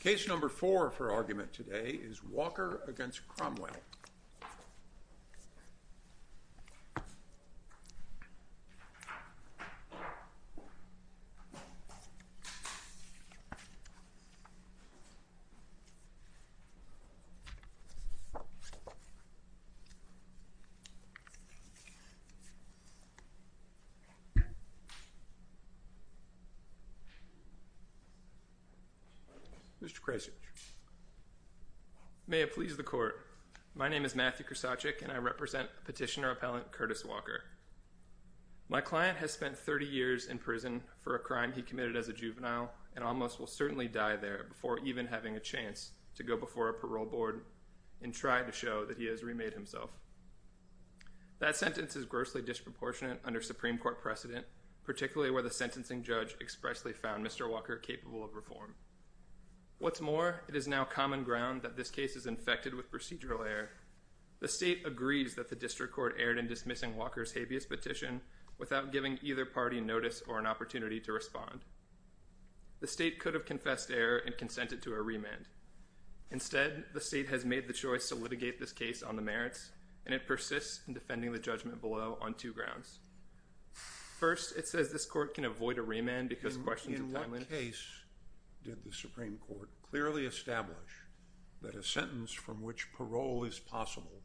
Case number four for argument today is Walker v. Cromwell. Mr. Krasich. May it please the court. My name is Matthew Krasich and I represent petitioner appellant Curtis Walker. My client has spent 30 years in prison for a crime he committed as a juvenile and almost will certainly die there before even having a chance to go before a parole board and try to show that he has remade himself. That sentence is grossly disproportionate under Supreme Court precedent, particularly where the sentencing judge expressly found Mr. Walker capable of reform. What's more, it is now common ground that this case is infected with procedural error. The state agrees that the district court erred in dismissing Walker's habeas petition without giving either party notice or an opportunity to respond. The state could have confessed error and consented to a remand. Instead, the state has made the choice to litigate this case on the merits, and it persists in defending the judgment below on two grounds. First, it says this court can avoid a remand because of questions of timeliness. In what case did the Supreme Court clearly establish that a sentence from which parole is possible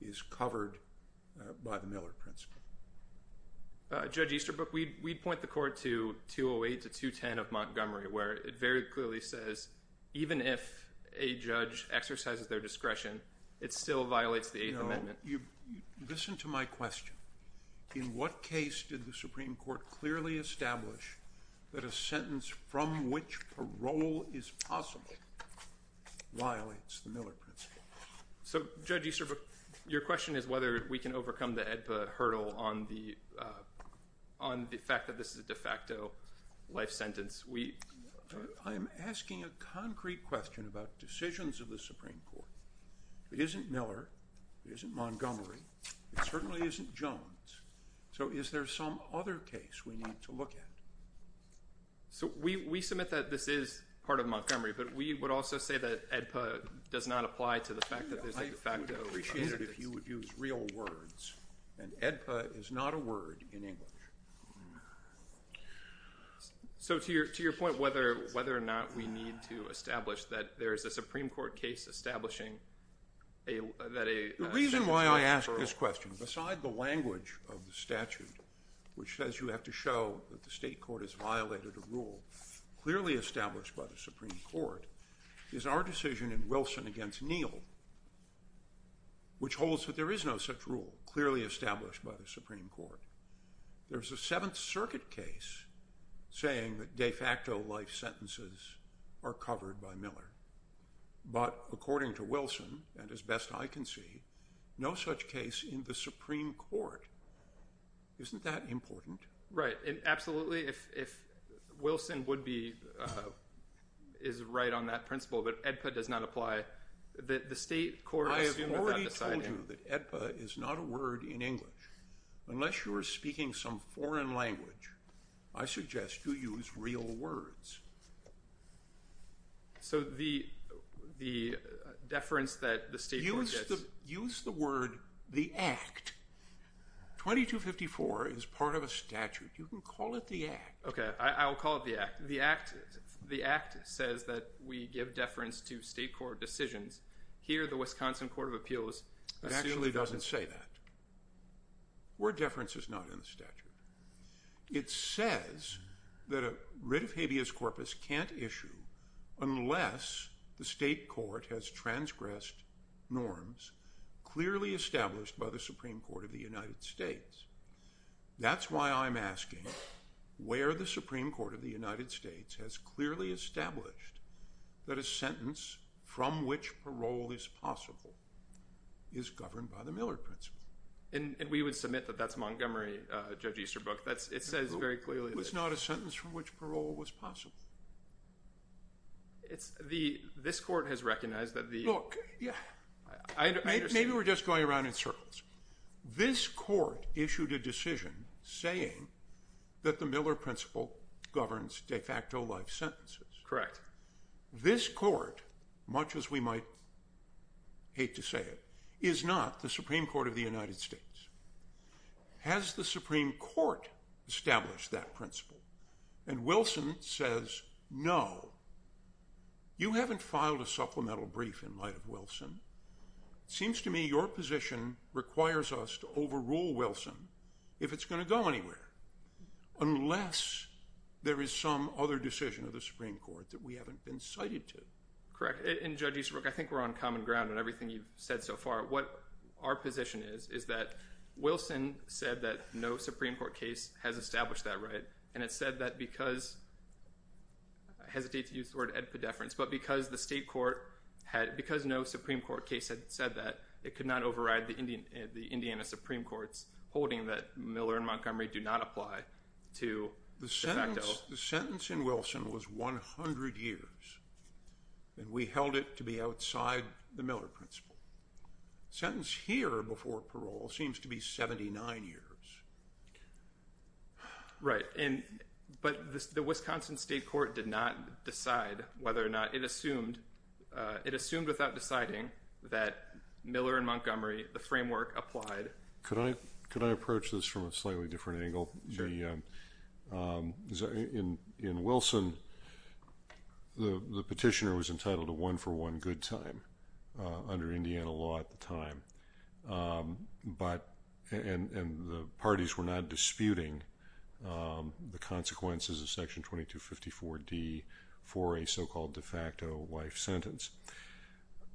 is covered by the Miller principle? Judge Easterbrook, we'd point the court to 208 to 210 of Montgomery, where it very clearly says even if a judge exercises their discretion, it still violates the Eighth Amendment. Listen to my question. In what case did the Supreme Court clearly establish that a sentence from which parole is possible violates the Miller principle? So, Judge Easterbrook, your question is whether we can overcome the AEDPA hurdle on the fact that this is a de facto life sentence. I am asking a concrete question about decisions of the Supreme Court. It isn't Miller. It isn't Montgomery. It certainly isn't Jones. So is there some other case we need to look at? So we submit that this is part of Montgomery, but we would also say that AEDPA does not apply to the fact that there's a de facto… I would appreciate it if you would use real words, and AEDPA is not a word in English. So to your point, whether or not we need to establish that there is a Supreme Court case establishing that a sentence from which parole… clearly established by the Supreme Court is our decision in Wilson against Neal, which holds that there is no such rule clearly established by the Supreme Court. There's a Seventh Circuit case saying that de facto life sentences are covered by Miller. But according to Wilson, and as best I can see, no such case in the Supreme Court. Isn't that important? Right, and absolutely, if Wilson would be – is right on that principle, but AEDPA does not apply, the State Court… I have already told you that AEDPA is not a word in English. Unless you are speaking some foreign language, I suggest you use real words. So the deference that the State Court gets… Use the word the act. 2254 is part of a statute. You can call it the act. Okay, I will call it the act. The act says that we give deference to State Court decisions. Here, the Wisconsin Court of Appeals… It actually doesn't say that. The word deference is not in the statute. It says that a writ of habeas corpus can't issue unless the State Court has transgressed norms clearly established by the Supreme Court of the United States. That's why I'm asking where the Supreme Court of the United States has clearly established that a sentence from which parole is possible is governed by the Miller principle. And we would submit that that's Montgomery, Judge Easterbrook. It says very clearly… It's not a sentence from which parole was possible. This Court has recognized that the… Look, maybe we're just going around in circles. This Court issued a decision saying that the Miller principle governs de facto life sentences. Correct. This Court, much as we might hate to say it, is not the Supreme Court of the United States. Has the Supreme Court established that principle? And Wilson says no. You haven't filed a supplemental brief in light of Wilson. It seems to me your position requires us to overrule Wilson if it's going to go anywhere unless there is some other decision of the Supreme Court that we haven't been cited to. Correct. And Judge Easterbrook, I think we're on common ground in everything you've said so far. What our position is, is that Wilson said that no Supreme Court case has established that right. And it said that because… I hesitate to use the word edpedeference, but because the state court had… because no Supreme Court case had said that, it could not override the Indiana Supreme Court's holding that Miller and Montgomery do not apply to de facto. The sentence in Wilson was 100 years, and we held it to be outside the Miller principle. The sentence here before parole seems to be 79 years. Right. But the Wisconsin state court did not decide whether or not… it assumed without deciding that Miller and Montgomery, the framework, applied. Could I approach this from a slightly different angle? Sure. In Wilson, the petitioner was entitled to one for one good time under Indiana law at the time, and the parties were not disputing the consequences of Section 2254D for a so-called de facto wife sentence.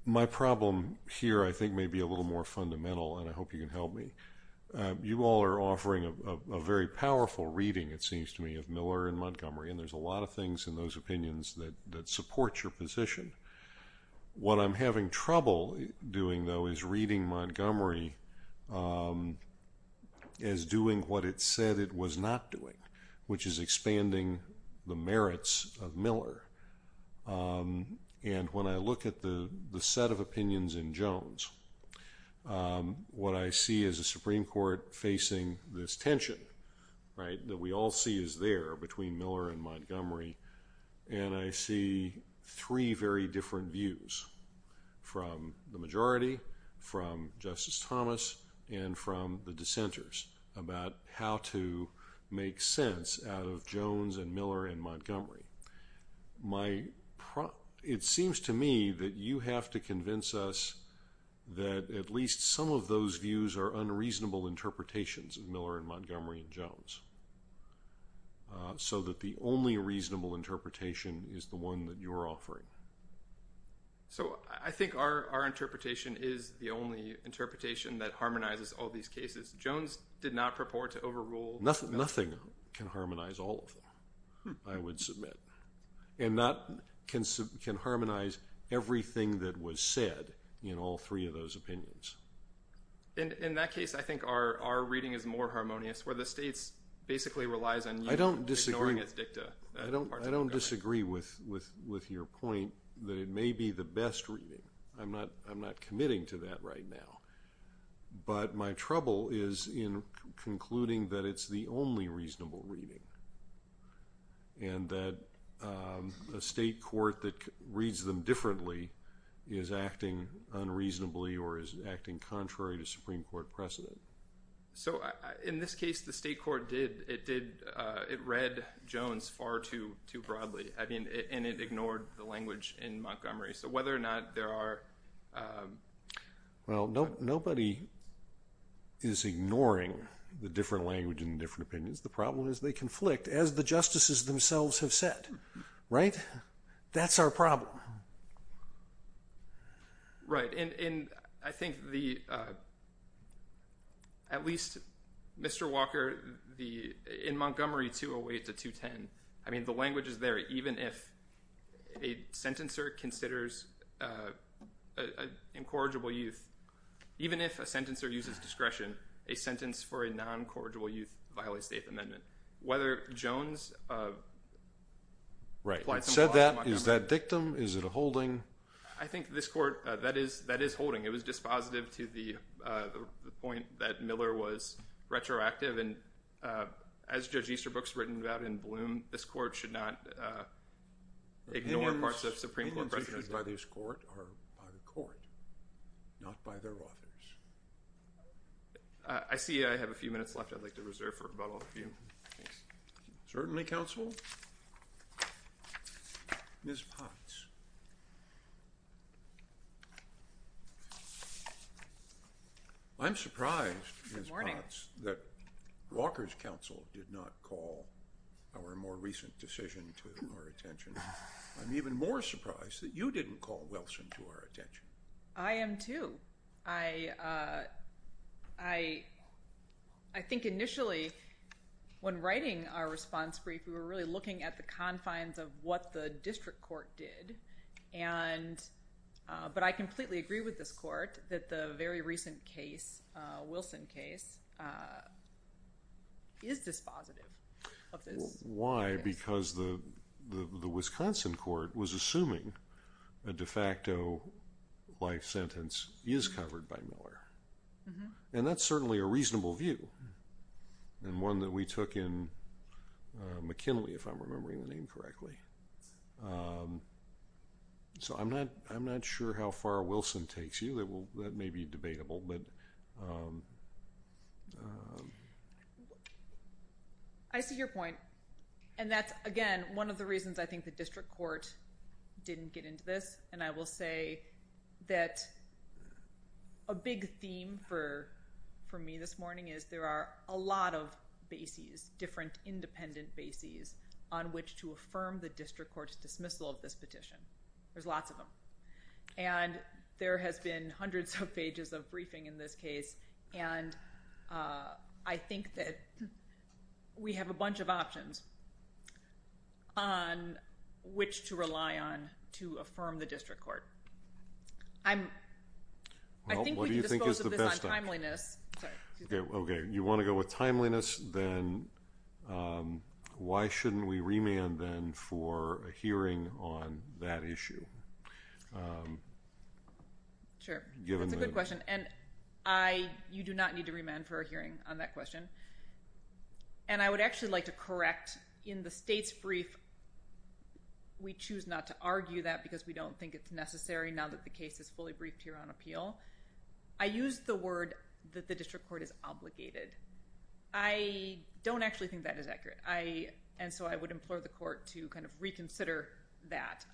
My problem here I think may be a little more fundamental, and I hope you can help me. You all are offering a very powerful reading, it seems to me, of Miller and Montgomery, and there's a lot of things in those opinions that support your position. What I'm having trouble doing, though, is reading Montgomery as doing what it said it was not doing, which is expanding the merits of Miller. And when I look at the set of opinions in Jones, what I see is a Supreme Court facing this tension that we all see is there between Miller and Montgomery, and I see three very different views from the majority, from Justice Thomas, and from the dissenters about how to make sense out of Jones and Miller and Montgomery. It seems to me that you have to convince us that at least some of those views are unreasonable interpretations of Miller and Montgomery and Jones, so that the only reasonable interpretation is the one that you're offering. So I think our interpretation is the only interpretation that harmonizes all these cases. Jones did not purport to overrule Miller. Nothing can harmonize all of them, I would submit, and nothing can harmonize everything that was said in all three of those opinions. In that case, I think our reading is more harmonious, where the states basically relies on you ignoring its dicta. I don't disagree with your point that it may be the best reading. I'm not committing to that right now, but my trouble is in concluding that it's the only reasonable reading, and that a state court that reads them differently is acting unreasonably or is acting contrary to Supreme Court precedent. In this case, the state court read Jones far too broadly, and it ignored the language in Montgomery. So whether or not there are... Well, nobody is ignoring the different language and the different opinions. The problem is they conflict, as the justices themselves have said, right? That's our problem. Right, and I think at least Mr. Walker, in Montgomery 208 to 210, I mean, the language is there even if a sentencer considers incorrigible youth. Even if a sentencer uses discretion, a sentence for a non-corrigible youth violates the Eighth Amendment. Right. You said that. Is that dictum? Is it a holding? I think this court, that is holding. It was dispositive to the point that Miller was retroactive. And as Judge Easterbrook's written about in Bloom, this court should not ignore parts of Supreme Court precedent. Opinions issued by this court are by the court, not by their authors. I see I have a few minutes left. I'd like to reserve for about a few. Certainly, counsel. Ms. Potts. I'm surprised, Ms. Potts, that Walker's counsel did not call our more recent decision to our attention. I'm even more surprised that you didn't call Wilson to our attention. I am, too. I think initially when writing our response brief, we were really looking at the confines of what the district court did. But I completely agree with this court that the very recent case, Wilson case, is dispositive of this. Why? Because the Wisconsin court was assuming a de facto life sentence is covered by Miller. And that's certainly a reasonable view. And one that we took in McKinley, if I'm remembering the name correctly. So I'm not sure how far Wilson takes you. That may be debatable. I see your point. And that's, again, one of the reasons I think the district court didn't get into this. And I will say that a big theme for me this morning is there are a lot of bases, different independent bases, on which to affirm the district court's dismissal of this petition. There's lots of them. And there has been hundreds of pages of briefing in this case. And I think that we have a bunch of options on which to rely on to affirm the district court. I think we can dispose of this on timeliness. Okay. You want to go with timeliness? Then why shouldn't we remand then for a hearing on that issue? Sure. That's a good question. And you do not need to remand for a hearing on that question. And I would actually like to correct. In the state's brief, we choose not to argue that because we don't think it's necessary, now that the case is fully briefed here on appeal. I use the word that the district court is obligated. I don't actually think that is accurate. And so I would implore the court to kind of reconsider that.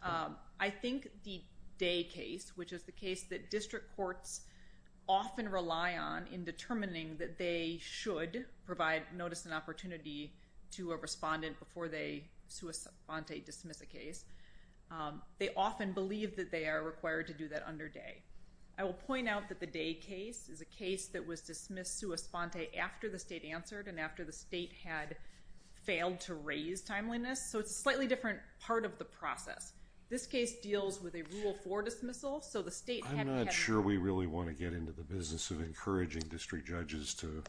I think the Day case, which is the case that district courts often rely on in determining that they should provide notice and opportunity to a respondent before they sui sante, dismiss a case, they often believe that they are required to do that under Day. I will point out that the Day case is a case that was dismissed sui sante after the state answered and after the state had failed to raise timeliness. So it's a slightly different part of the process. This case deals with a Rule 4 dismissal. So the state had to have... I'm not sure we really want to get into the business of encouraging district judges to...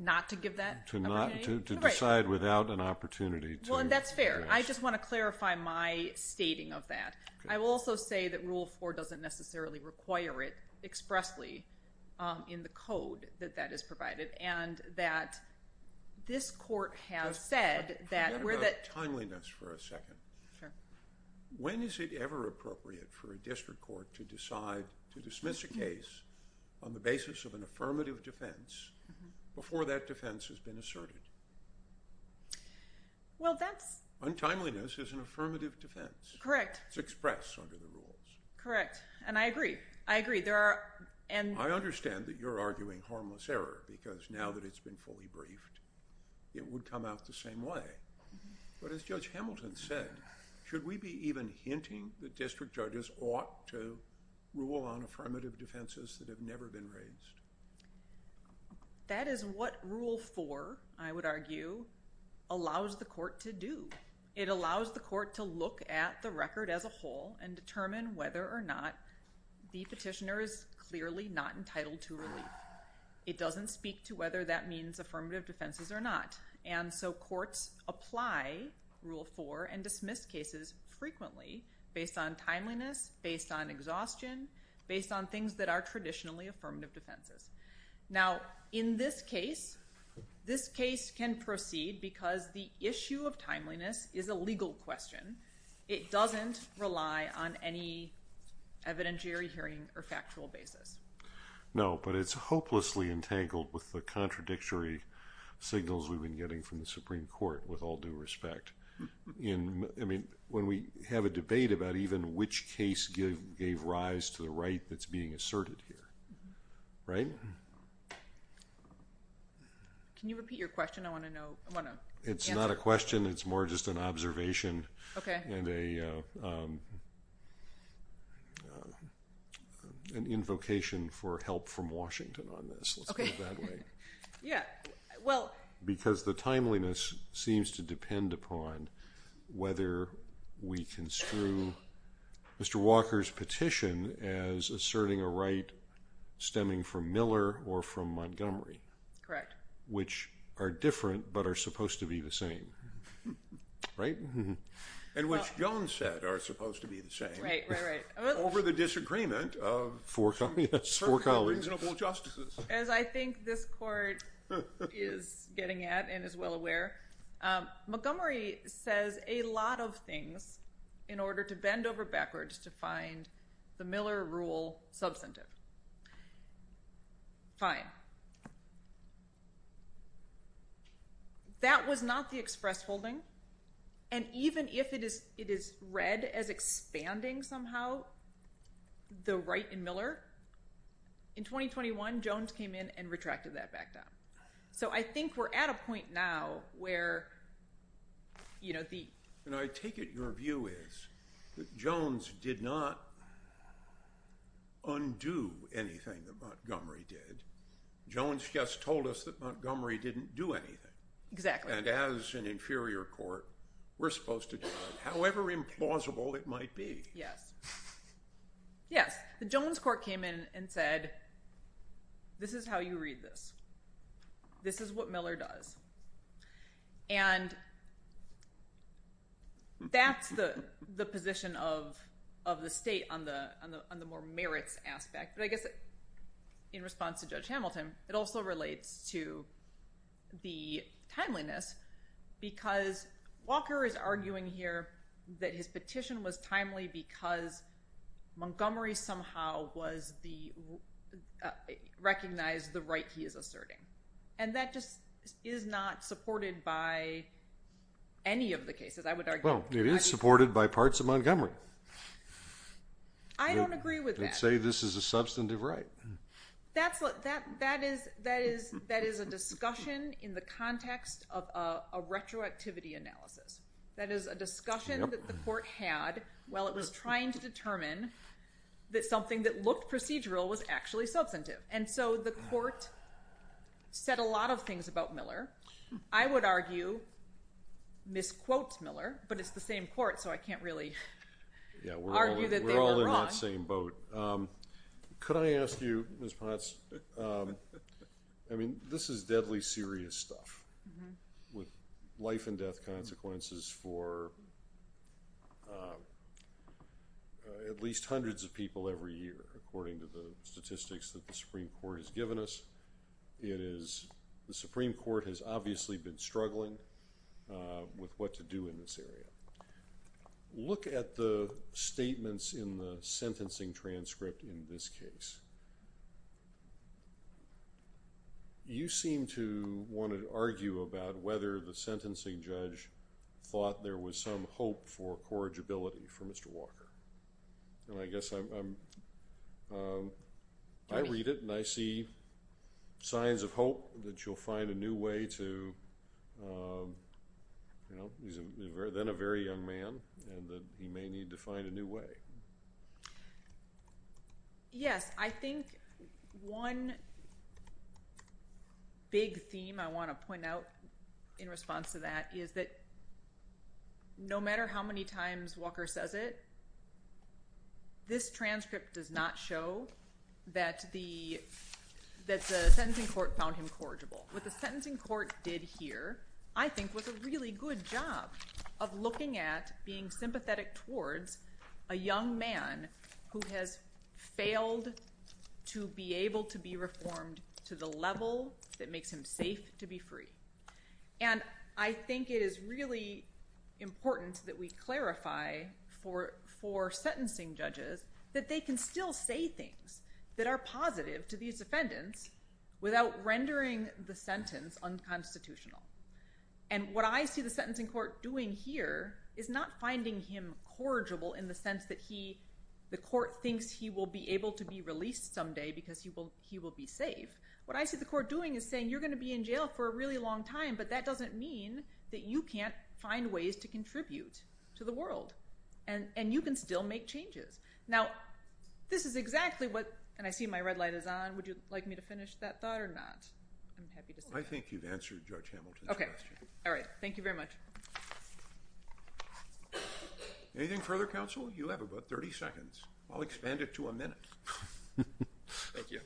Not to give that? To decide without an opportunity to... Well, that's fair. I just want to clarify my stating of that. I will also say that Rule 4 doesn't necessarily require it expressly in the code that that is provided and that this court has said that... Let's talk about timeliness for a second. Sure. When is it ever appropriate for a district court to decide to dismiss a case on the basis of an affirmative defense before that defense has been asserted? Well, that's... Untimeliness is an affirmative defense. Correct. It's expressed under the rules. Correct. And I agree. I agree. There are... I understand that you're arguing harmless error because now that it's been fully briefed, it would come out the same way. But as Judge Hamilton said, should we be even hinting that district judges ought to rule on affirmative defenses that have never been raised? That is what Rule 4, I would argue, allows the court to do. It allows the court to look at the record as a whole and determine whether or not the petitioner is clearly not entitled to relief. It doesn't speak to whether that means affirmative defenses or not. And so courts apply Rule 4 and dismiss cases frequently based on timeliness, based on exhaustion, based on things that are traditionally affirmative defenses. Now, in this case, this case can proceed because the issue of timeliness is a legal question. It doesn't rely on any evidentiary hearing or factual basis. No, but it's hopelessly entangled with the contradictory signals we've been getting from the Supreme Court, with all due respect. I mean, when we have a debate about even which case gave rise to the right that's being asserted here, right? Can you repeat your question? I want to know. It's not a question. It's more just an observation and an invocation for help from Washington on this. Let's put it that way. Because the timeliness seems to depend upon whether we construe Mr. Walker's petition as asserting a right stemming from Miller or from Montgomery. Which are different but are supposed to be the same, right? And which Jones said are supposed to be the same. Right, right, right. Over the disagreement of some reasonable justices. As I think this court is getting at and is well aware, Montgomery says a lot of things in order to bend over backwards to find the Miller rule substantive. Fine. That was not the express holding. And even if it is read as expanding somehow the right in Miller, in 2021 Jones came in and retracted that back down. So I think we're at a point now where, you know, the... And I take it your view is that Jones did not undo anything that Montgomery did. Jones just told us that Montgomery didn't do anything. Exactly. And as an inferior court, we're supposed to do that. However implausible it might be. Yes. Yes. The Jones court came in and said this is how you read this. This is what Miller does. And that's the position of the state on the more merits aspect. But I guess in response to Judge Hamilton, it also relates to the timeliness because Walker is arguing here that his petition was timely because Montgomery somehow recognized the right he is asserting. And that just is not supported by any of the cases, I would argue. Well, it is supported by parts of Montgomery. I don't agree with that. I'd say this is a substantive right. That is a discussion in the context of a retroactivity analysis. That is a discussion that the court had while it was trying to determine that something that looked procedural was actually substantive. And so the court said a lot of things about Miller. I would argue misquotes Miller, but it's the same court, so I can't really argue that they were wrong. Yeah, we're all in that same boat. Could I ask you, Ms. Potts, I mean, this is deadly serious stuff with life and death consequences for at least hundreds of people every year, according to the statistics that the Supreme Court has given us. The Supreme Court has obviously been struggling with what to do in this area. Look at the statements in the sentencing transcript in this case. You seem to want to argue about whether the sentencing judge thought there was some hope for corrigibility for Mr. Walker. And I guess I read it and I see signs of hope that you'll find a new way to, you know, he's then a very young man and that he may need to find a new way. Yes, I think one big theme I want to point out in response to that is that no matter how many times Walker says it, this transcript does not show that the sentencing court found him corrigible. What the sentencing court did here, I think, was a really good job of looking at being sympathetic towards a young man who has failed to be able to be reformed to the level that makes him safe to be free. And I think it is really important that we clarify for sentencing judges that they can still say things that are positive to these defendants without rendering the sentence unconstitutional. And what I see the sentencing court doing here is not finding him corrigible in the sense that the court thinks he will be able to be released someday because he will be safe. What I see the court doing is saying you're going to be in jail for a really long time, but that doesn't mean that you can't find ways to contribute to the world and you can still make changes. Now, this is exactly what – and I see my red light is on. Would you like me to finish that thought or not? I'm happy to say that. I think you've answered Judge Hamilton's question. Okay. All right. Thank you very much. Anything further, counsel? You have about 30 seconds. I'll expand it to a minute. Thank you.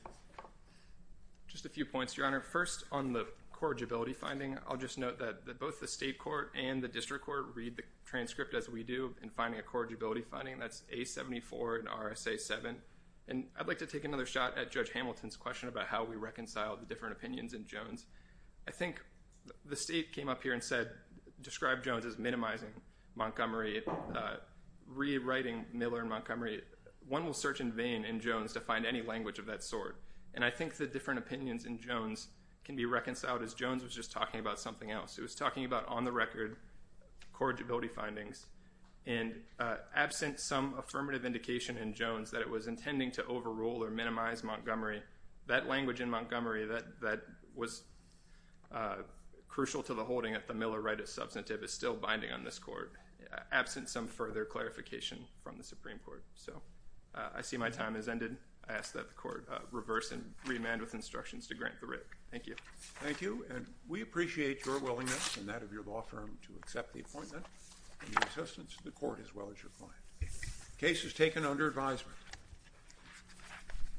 Just a few points, Your Honor. First, on the corrigibility finding, I'll just note that both the state court and the district court read the transcript as we do in finding a corrigibility finding. That's A74 and RSA 7. I'd like to take another shot at Judge Hamilton's question about how we reconcile the different opinions in Jones. I think the state came up here and described Jones as minimizing Montgomery, rewriting Miller and Montgomery. One will search in vain in Jones to find any language of that sort, and I think the different opinions in Jones can be reconciled as Jones was just talking about something else. He was talking about on-the-record corrigibility findings. Absent some affirmative indication in Jones that it was intending to overrule or minimize Montgomery, that language in Montgomery that was crucial to the holding at the Miller right of substantive is still binding on this court, absent some further clarification from the Supreme Court. I see my time has ended. I ask that the court reverse and remand with instructions to grant the writ. Thank you. Thank you, and we appreciate your willingness and that of your law firm to accept the appointment and the assistance of the court as well as your client. Case is taken under advisement.